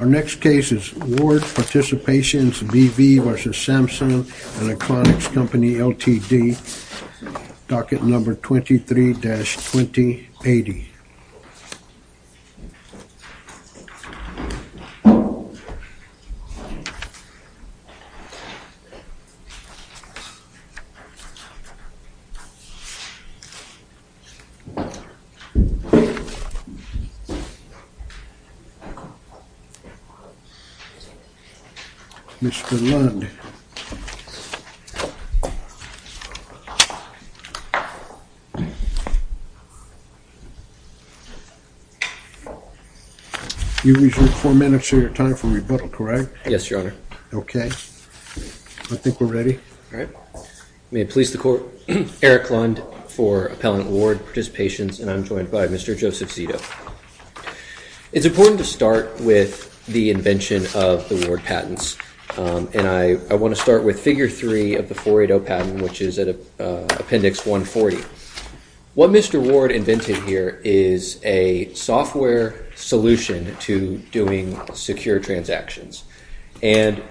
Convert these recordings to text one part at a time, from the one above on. Our next case is Ward Participations B.V. v. Samsung Electronics Co., Ltd., docket number 23-2080. Mr. Lund, you reserve four minutes of your time for rebuttal, correct? Yes, Your Honor. Okay. I think we're ready. May it please the Court, Eric Lund for Appellant Ward Participations, and I'm joined by Mr. Joseph Zito. It's important to start with the invention of the Ward patents, and I want to start with figure three of the 480 patent, which is at Appendix 140. What Mr. Ward invented here is a software solution to doing secure transactions, and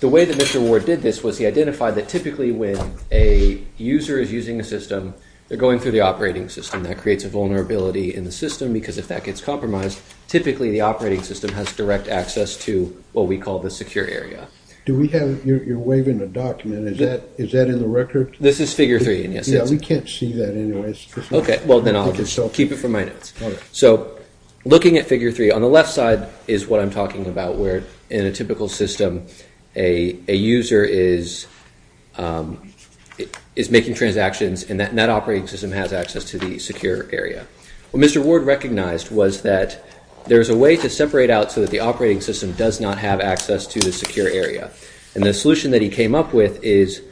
the way that Mr. Ward did this was he identified that typically when a user is using a system, they're going through the operating system. That creates a vulnerability in the system because if that gets compromised, typically the operating system has direct access to what we call the secure area. You're waving a document. Is that in the record? This is figure three. We can't see that anyways. Okay. Well, then I'll keep it for my notes. So looking at figure three, on the left side is what I'm talking about where in a typical system, a user is making transactions, and that operating system has access to the secure area. What Mr. Ward recognized was that there's a way to separate out so that the operating system does not have access to the secure area, and the solution that he came up with is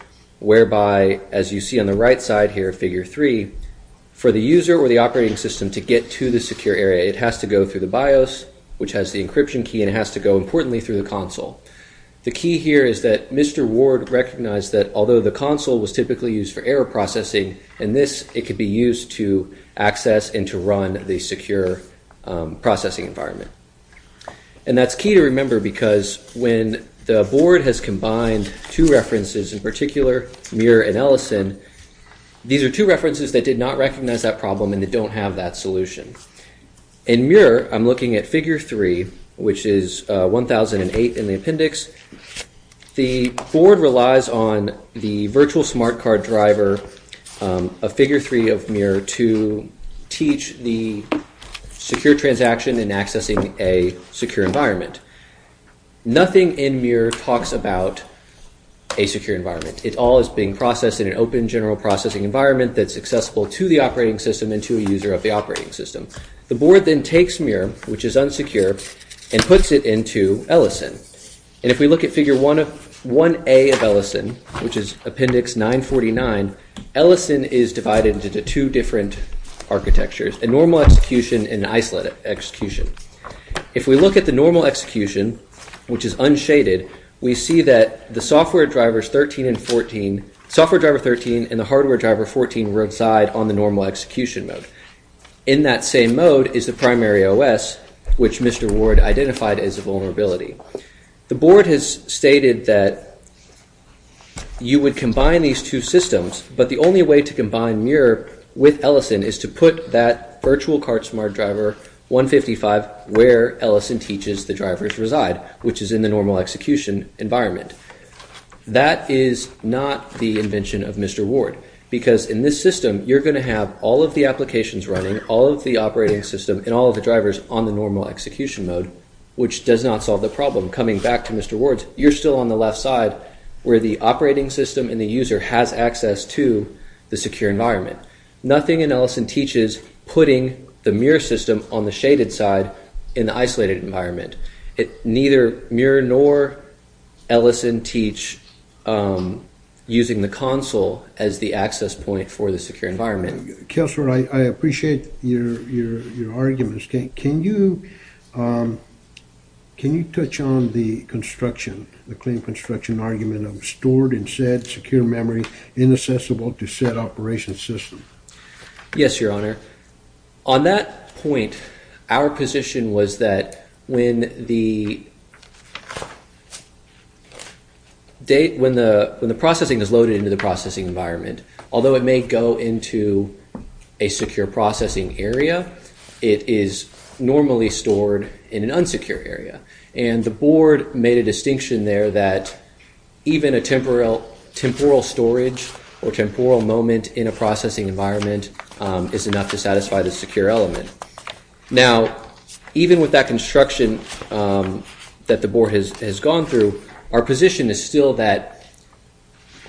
whereby, as you see on the right side here, figure three, for the user or the operating system to get to the secure area, it has to go through the BIOS, which has the encryption key, and it has to go, importantly, through the console. The key here is that Mr. Ward recognized that although the console was typically used for error processing, in this it could be used to access and to run the secure processing environment, and that's key to remember because when the board has combined two references in particular, Muir and Ellison, these are two references that did not recognize that problem and that don't have that solution. In Muir, I'm looking at figure three, which is 1008 in the appendix. The board relies on the virtual smart card driver of figure three of Muir to teach the secure transaction in accessing a secure environment. Nothing in Muir talks about a secure environment. It all is being processed in an open general processing environment that's accessible to the operating system and to a user of the operating system. The board then takes Muir, which is unsecure, and puts it into Ellison. If we look at figure 1A of Ellison, which is appendix 949, Ellison is divided into two different architectures, a normal execution and an isolated execution. If we look at the normal execution, which is unshaded, we see that the software driver 13 and the hardware driver 14 reside on the normal execution mode. In that same mode is the primary OS, which Mr. Ward identified as a vulnerability. The board has stated that you would combine these two systems, but the only way to combine Muir with Ellison is to put that virtual card smart driver 155 where Ellison teaches the drivers reside, which is in the normal execution environment. That is not the invention of Mr. Ward, because in this system you're going to have all of the applications running, all of the operating system, and all of the drivers on the normal execution mode, which does not solve the problem. Coming back to Mr. Ward's, you're still on the left side where the operating system and the user has access to the secure environment. Nothing in Ellison teaches putting the Muir system on the shaded side in the isolated environment. Neither Muir nor Ellison teach using the console as the access point for the secure environment. Counselor, I appreciate your arguments. Can you touch on the construction, the clean construction argument of stored and set secure memory inaccessible to set operation system? Yes, Your Honor. On that point, our position was that when the processing is loaded into the processing environment, although it may go into a secure processing area, it is normally stored in an unsecure area. The board made a distinction there that even a temporal storage or temporal moment in a processing environment is enough to satisfy the secure element. Now, even with that construction that the board has gone through, our position is still that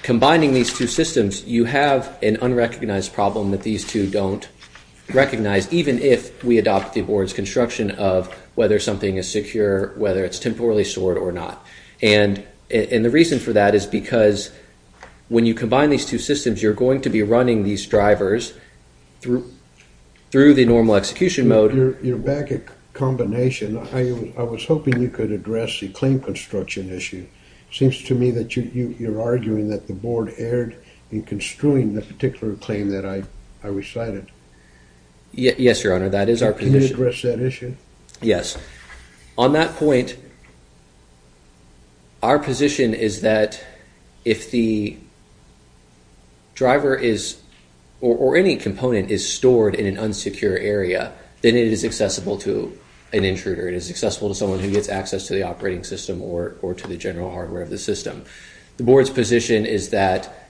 combining these two systems, you have an unrecognized problem that these two don't recognize, even if we adopt the board's construction of whether something is secure, whether it's temporally stored or not. And the reason for that is because when you combine these two systems, you're going to be running these drivers through the normal execution mode. You're back at combination. I was hoping you could address the clean construction issue. It seems to me that you're arguing that the board erred in construing the particular claim that I recited. Yes, Your Honor, that is our position. Can you address that issue? Yes. On that point, our position is that if the driver is or any component is stored in an unsecure area, then it is accessible to an intruder. It is accessible to someone who gets access to the operating system or to the general hardware of the system. The board's position is that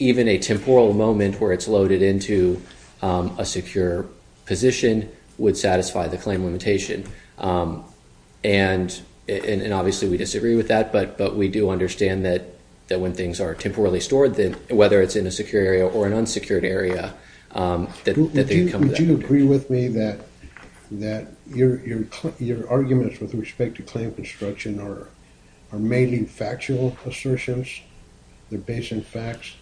even a temporal moment where it's loaded into a secure position would satisfy the claim limitation. And obviously, we disagree with that. But we do understand that when things are temporally stored, whether it's in a secure area or an unsecured area, Would you agree with me that your arguments with respect to claim construction are mainly factual assertions? They're based on facts?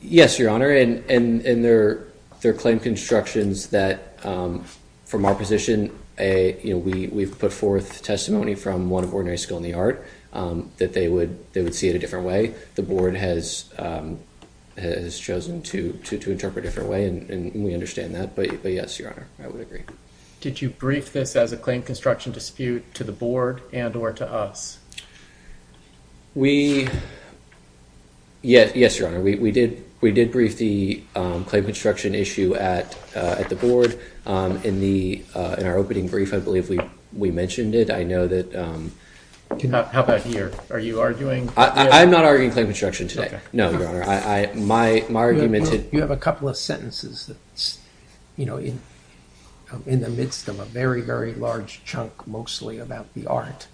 Yes, Your Honor. And they're claim constructions that, from our position, we've put forth testimony from one of Ordinary School in the Art that they would see it a different way. The board has chosen to interpret a different way, and we understand that. But yes, Your Honor, I would agree. Did you brief this as a claim construction dispute to the board and or to us? Yes, Your Honor. We did brief the claim construction issue at the board. In our opening brief, I believe we mentioned it. How about here? Are you arguing? I'm not arguing claim construction today. No, Your Honor. You have a couple of sentences that's in the midst of a very, very large chunk mostly about the Art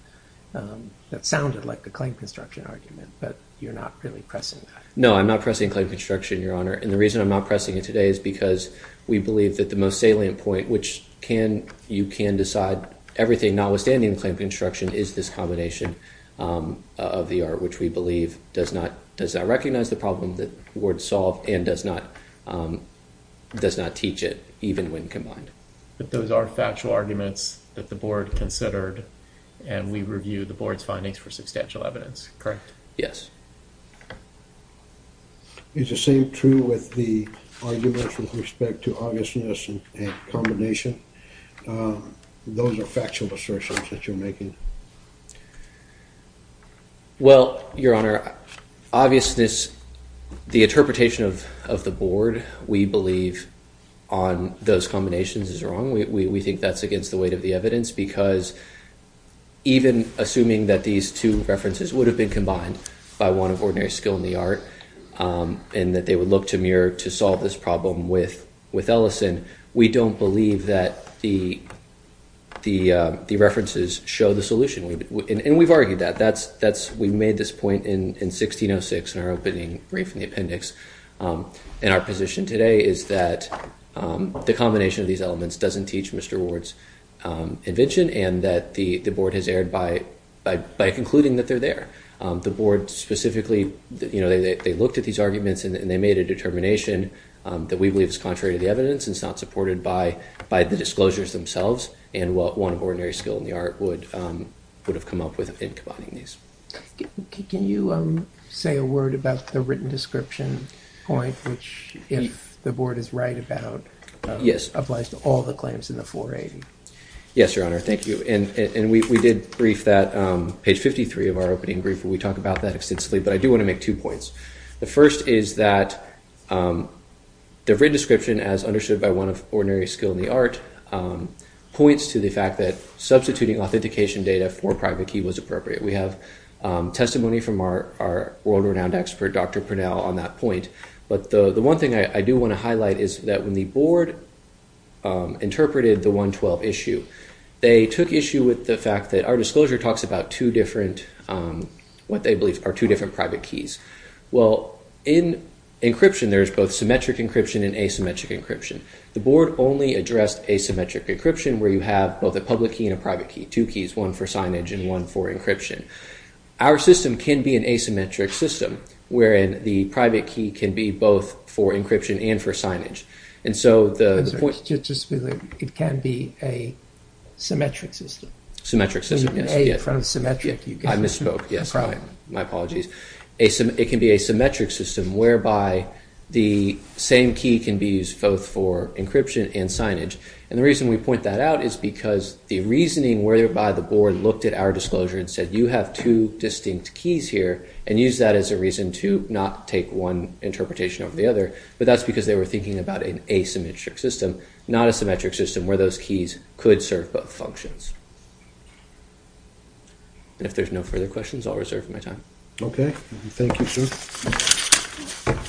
that sounded like a claim construction argument, but you're not really pressing that. No, I'm not pressing claim construction, Your Honor. And the reason I'm not pressing it today is because we believe that the most salient point, which you can decide everything notwithstanding the claim construction, is this combination of the Art, which we believe does not recognize the problem that the board solved and does not teach it, even when combined. But those are factual arguments that the board considered, and we review the board's findings for substantial evidence, correct? Yes. Is the same true with the arguments with respect to obviousness and combination? Those are factual assertions that you're making. Well, Your Honor, obviousness, the interpretation of the board, we believe on those combinations is wrong. We think that's against the weight of the evidence because even assuming that these two references would have been combined by one of ordinary skill in the Art and that they would look to Muir to solve this problem with Ellison, we don't believe that the references show the solution. And we've argued that. We made this point in 1606 in our opening brief in the appendix. And our position today is that the combination of these elements doesn't teach Mr. Ward's invention and that the board has erred by concluding that they're there. The board specifically, they looked at these arguments and they made a determination that we believe is contrary to the evidence and is not supported by the disclosures themselves and what one of ordinary skill in the Art would have come up with in combining these. Can you say a word about the written description point, which if the board is right about, applies to all the claims in the 480? Yes, Your Honor. Thank you. And we did brief that, page 53 of our opening brief where we talk about that extensively, but I do want to make two points. The first is that the written description as understood by one of ordinary skill in the Art points to the fact that substituting authentication data for private key was appropriate. We have testimony from our world-renowned expert, Dr. Purnell, on that point. But the one thing I do want to highlight is that when the board interpreted the 112 issue, they took issue with the fact that our disclosure talks about two different, what they believe are two different private keys. Well, in encryption, there's both symmetric encryption and asymmetric encryption. The board only addressed asymmetric encryption where you have both a public key and a private key, two keys, one for signage and one for encryption. Our system can be an asymmetric system, wherein the private key can be both for encryption and for signage. And so the point... It can be a symmetric system. Symmetric system, yes. I misspoke, yes. My apologies. It can be a symmetric system whereby the same key can be used both for encryption and signage. And the reason we point that out is because the reasoning whereby the board looked at our disclosure and said, you have two distinct keys here, and used that as a reason to not take one interpretation over the other. But that's because they were thinking about an asymmetric system, not a symmetric system where those keys could serve both functions. And if there's no further questions, I'll reserve my time. Okay. Thank you, sir. Thank you.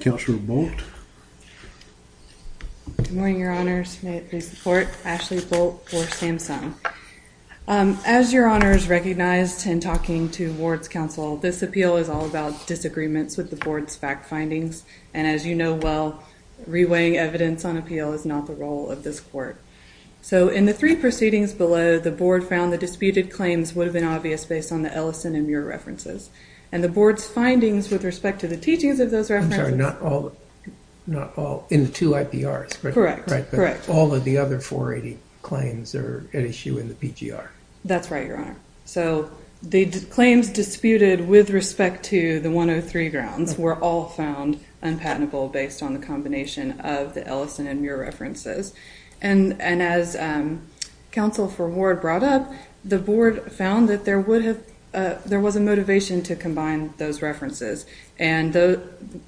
Counselor Bolt. Good morning, Your Honors. May it please the Court. Ashley Bolt for Samsung. As Your Honors recognized in talking to Ward's counsel, this appeal is all about disagreements with the board's fact findings. And as you know well, reweighing evidence on appeal is not the role of this court. So in the three proceedings below, the board found the disputed claims would have been obvious based on the Ellison and Muir references. And the board's findings with respect to the teachings of those references… I'm sorry, not all. In the two IPRs. Correct. All of the other 480 claims are at issue in the PGR. That's right, Your Honor. So the claims disputed with respect to the 103 grounds were all found unpatentable based on the combination of the Ellison and Muir references. And as counsel for Ward brought up, the board found that there was a motivation to combine those references. And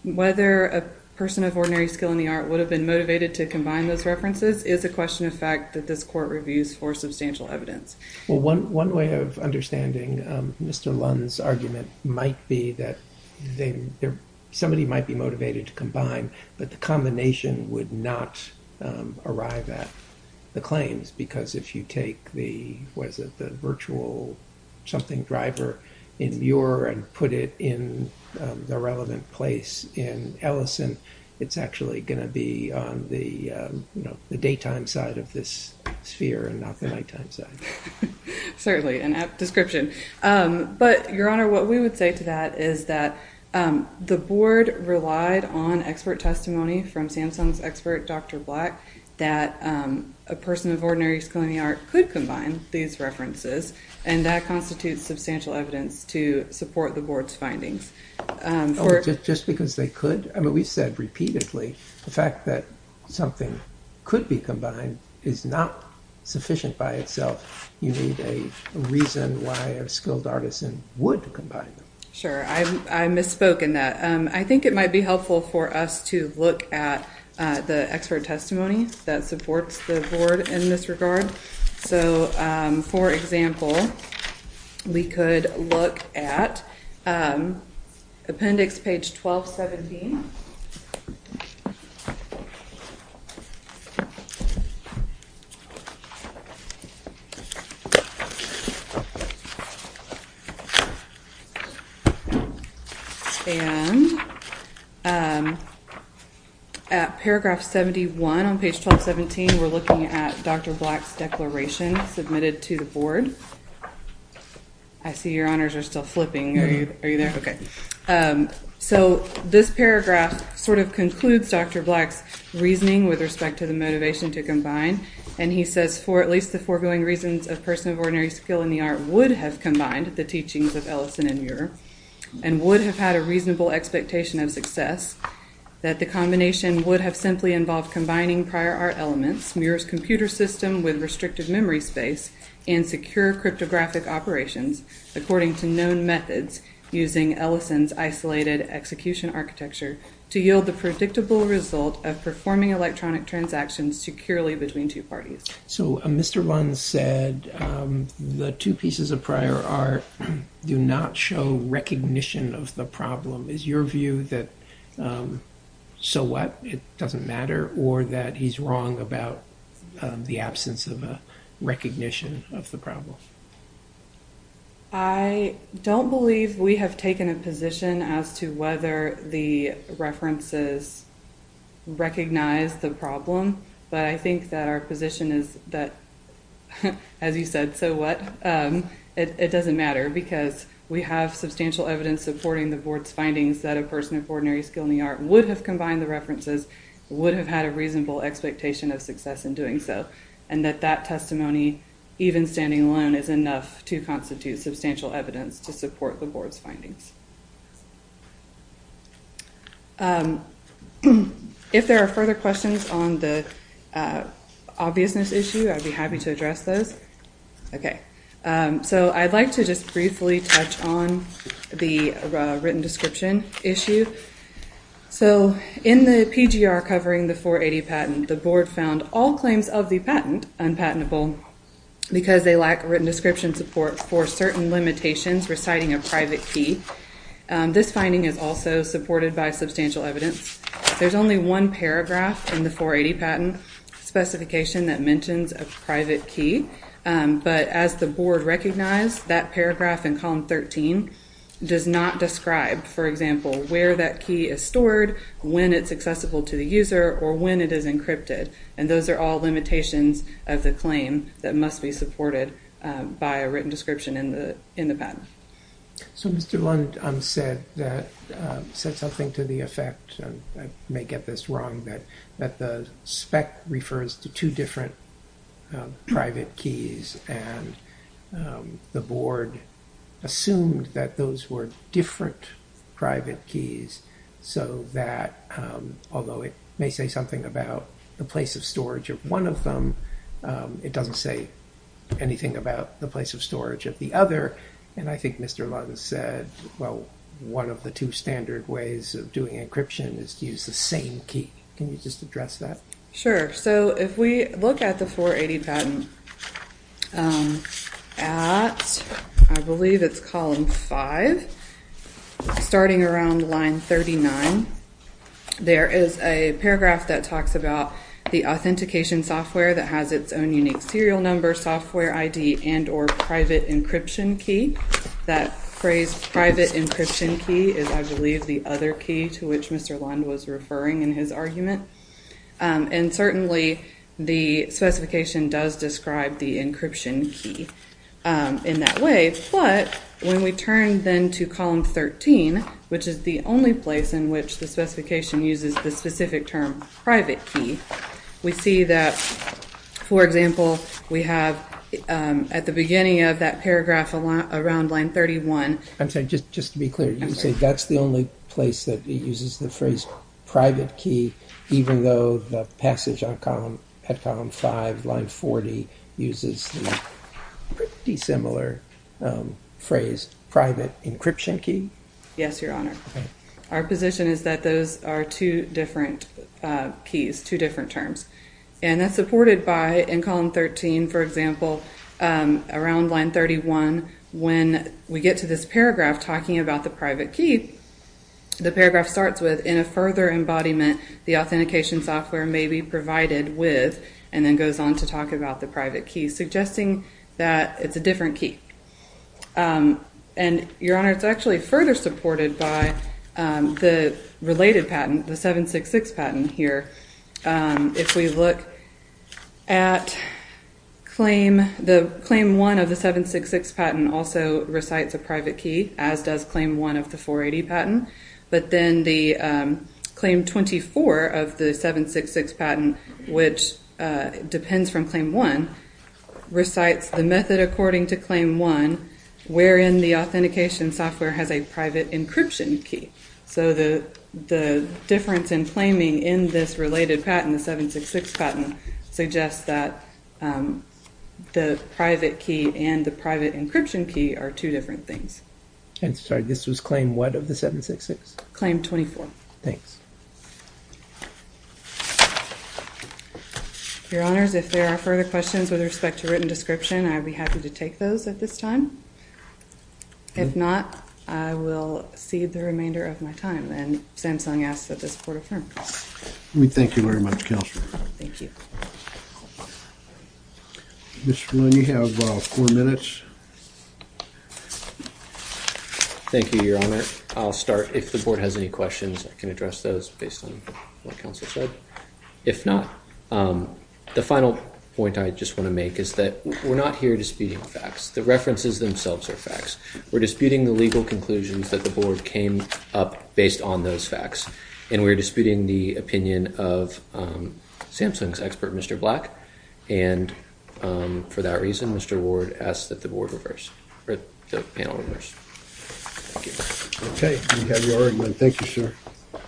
whether a person of ordinary skill in the art would have been motivated to combine those references is a question of fact that this court reviews for substantial evidence. Well, one way of understanding Mr. Lund's argument might be that somebody might be motivated to combine, but the combination would not arrive at the claims. Because if you take the virtual something driver in Muir and put it in the relevant place in Ellison, it's actually going to be on the daytime side of this sphere and not the nighttime side. Certainly, an apt description. But, Your Honor, what we would say to that is that the board relied on expert testimony from Samsung's expert, Dr. Black, that a person of ordinary skill in the art could combine these references, and that constitutes substantial evidence to support the board's findings. Just because they could? I mean, we've said repeatedly the fact that something could be combined is not sufficient by itself. You need a reason why a skilled artisan would combine them. I misspoken that I think it might be helpful for us to look at the expert testimony that supports the board in this regard. So, for example, we could look at appendix page 12, 17. And at paragraph 71 on page 12, 17, we're looking at Dr. Black's declaration submitted to the board. I see your honors are still flipping. Are you there? Okay. So, this paragraph sort of concludes Dr. Black's reasoning with respect to the motivation to combine. And he says, for at least the foregoing reasons a person of ordinary skill in the art would have combined the teachings of Ellison and Muir, and would have had a reasonable expectation of success, that the combination would have simply involved combining prior art elements, Muir's computer system with restricted memory space, and secure cryptographic operations, according to known methods, using Ellison's isolated execution architecture, to yield the predictable result of performing electronic transactions securely between two parties. So, Mr. Bunn said the two pieces of prior art do not show recognition of the problem. Is your view that, so what, it doesn't matter, or that he's wrong about the absence of a recognition of the problem? I don't believe we have taken a position as to whether the references recognize the problem, but I think that our position is that, as you said, so what, it doesn't matter, because we have substantial evidence supporting the board's findings that a person of ordinary skill in the art would have combined the references, would have had a reasonable expectation of success in doing so. And that that testimony, even standing alone, is enough to constitute substantial evidence to support the board's findings. If there are further questions on the obviousness issue, I'd be happy to address those. Okay, so I'd like to just briefly touch on the written description issue. So, in the PGR covering the 480 patent, the board found all claims of the patent unpatentable because they lack written description support for certain limitations reciting a private key. This finding is also supported by substantial evidence. There's only one paragraph in the 480 patent specification that mentions a private key, but as the board recognized, that paragraph in column 13 does not describe, for example, where that key is stored, when it's accessible to the user, or when it is encrypted. And those are all limitations of the claim that must be supported by a written description in the patent. So Mr. Lund said something to the effect, and I may get this wrong, that the spec refers to two different private keys. And the board assumed that those were different private keys, so that although it may say something about the place of storage of one of them, it doesn't say anything about the place of storage of the other. And I think Mr. Lund said, well, one of the two standard ways of doing encryption is to use the same key. Can you just address that? So if we look at the 480 patent at, I believe it's column 5, starting around line 39, there is a paragraph that talks about the authentication software that has its own unique serial number, software ID, and or private encryption key. That phrase private encryption key is, I believe, the other key to which Mr. Lund was referring in his argument. And certainly the specification does describe the encryption key in that way. But when we turn then to column 13, which is the only place in which the specification uses the specific term private key, we see that, for example, we have at the beginning of that paragraph around line 31. I'm sorry, just to be clear, you say that's the only place that it uses the phrase private key, even though the passage at column 5, line 40, uses the pretty similar phrase private encryption key? Yes, Your Honor. Okay. Our position is that those are two different keys, two different terms. And that's supported by, in column 13, for example, around line 31, when we get to this paragraph talking about the private key, the paragraph starts with, in a further embodiment, the authentication software may be provided with, and then goes on to talk about the private key, suggesting that it's a different key. And, Your Honor, it's actually further supported by the related patent, the 766 patent here. If we look at claim 1 of the 766 patent also recites a private key, as does claim 1 of the 480 patent. But then the claim 24 of the 766 patent, which depends from claim 1, recites the method according to claim 1, wherein the authentication software has a private encryption key. So the difference in claiming in this related patent, the 766 patent, suggests that the private key and the private encryption key are two different things. I'm sorry, this was claim 1 of the 766? Claim 24. Thanks. Your Honors, if there are further questions with respect to written description, I'd be happy to take those at this time. If not, I will cede the remainder of my time, and Samsung asks that this Court affirm. We thank you very much, Counselor. Thank you. Mr. Lewin, you have four minutes. Thank you, Your Honor. I'll start. If the Board has any questions, I can address those based on what Counsel said. If not, the final point I just want to make is that we're not here disputing facts. The references themselves are facts. We're disputing the legal conclusions that the Board came up based on those facts, and we're disputing the opinion of Samsung's expert, Mr. Black. And for that reason, Mr. Ward asks that the Board reverse – or the panel reverse. Thank you. Okay, we have your argument. Thank you, sir.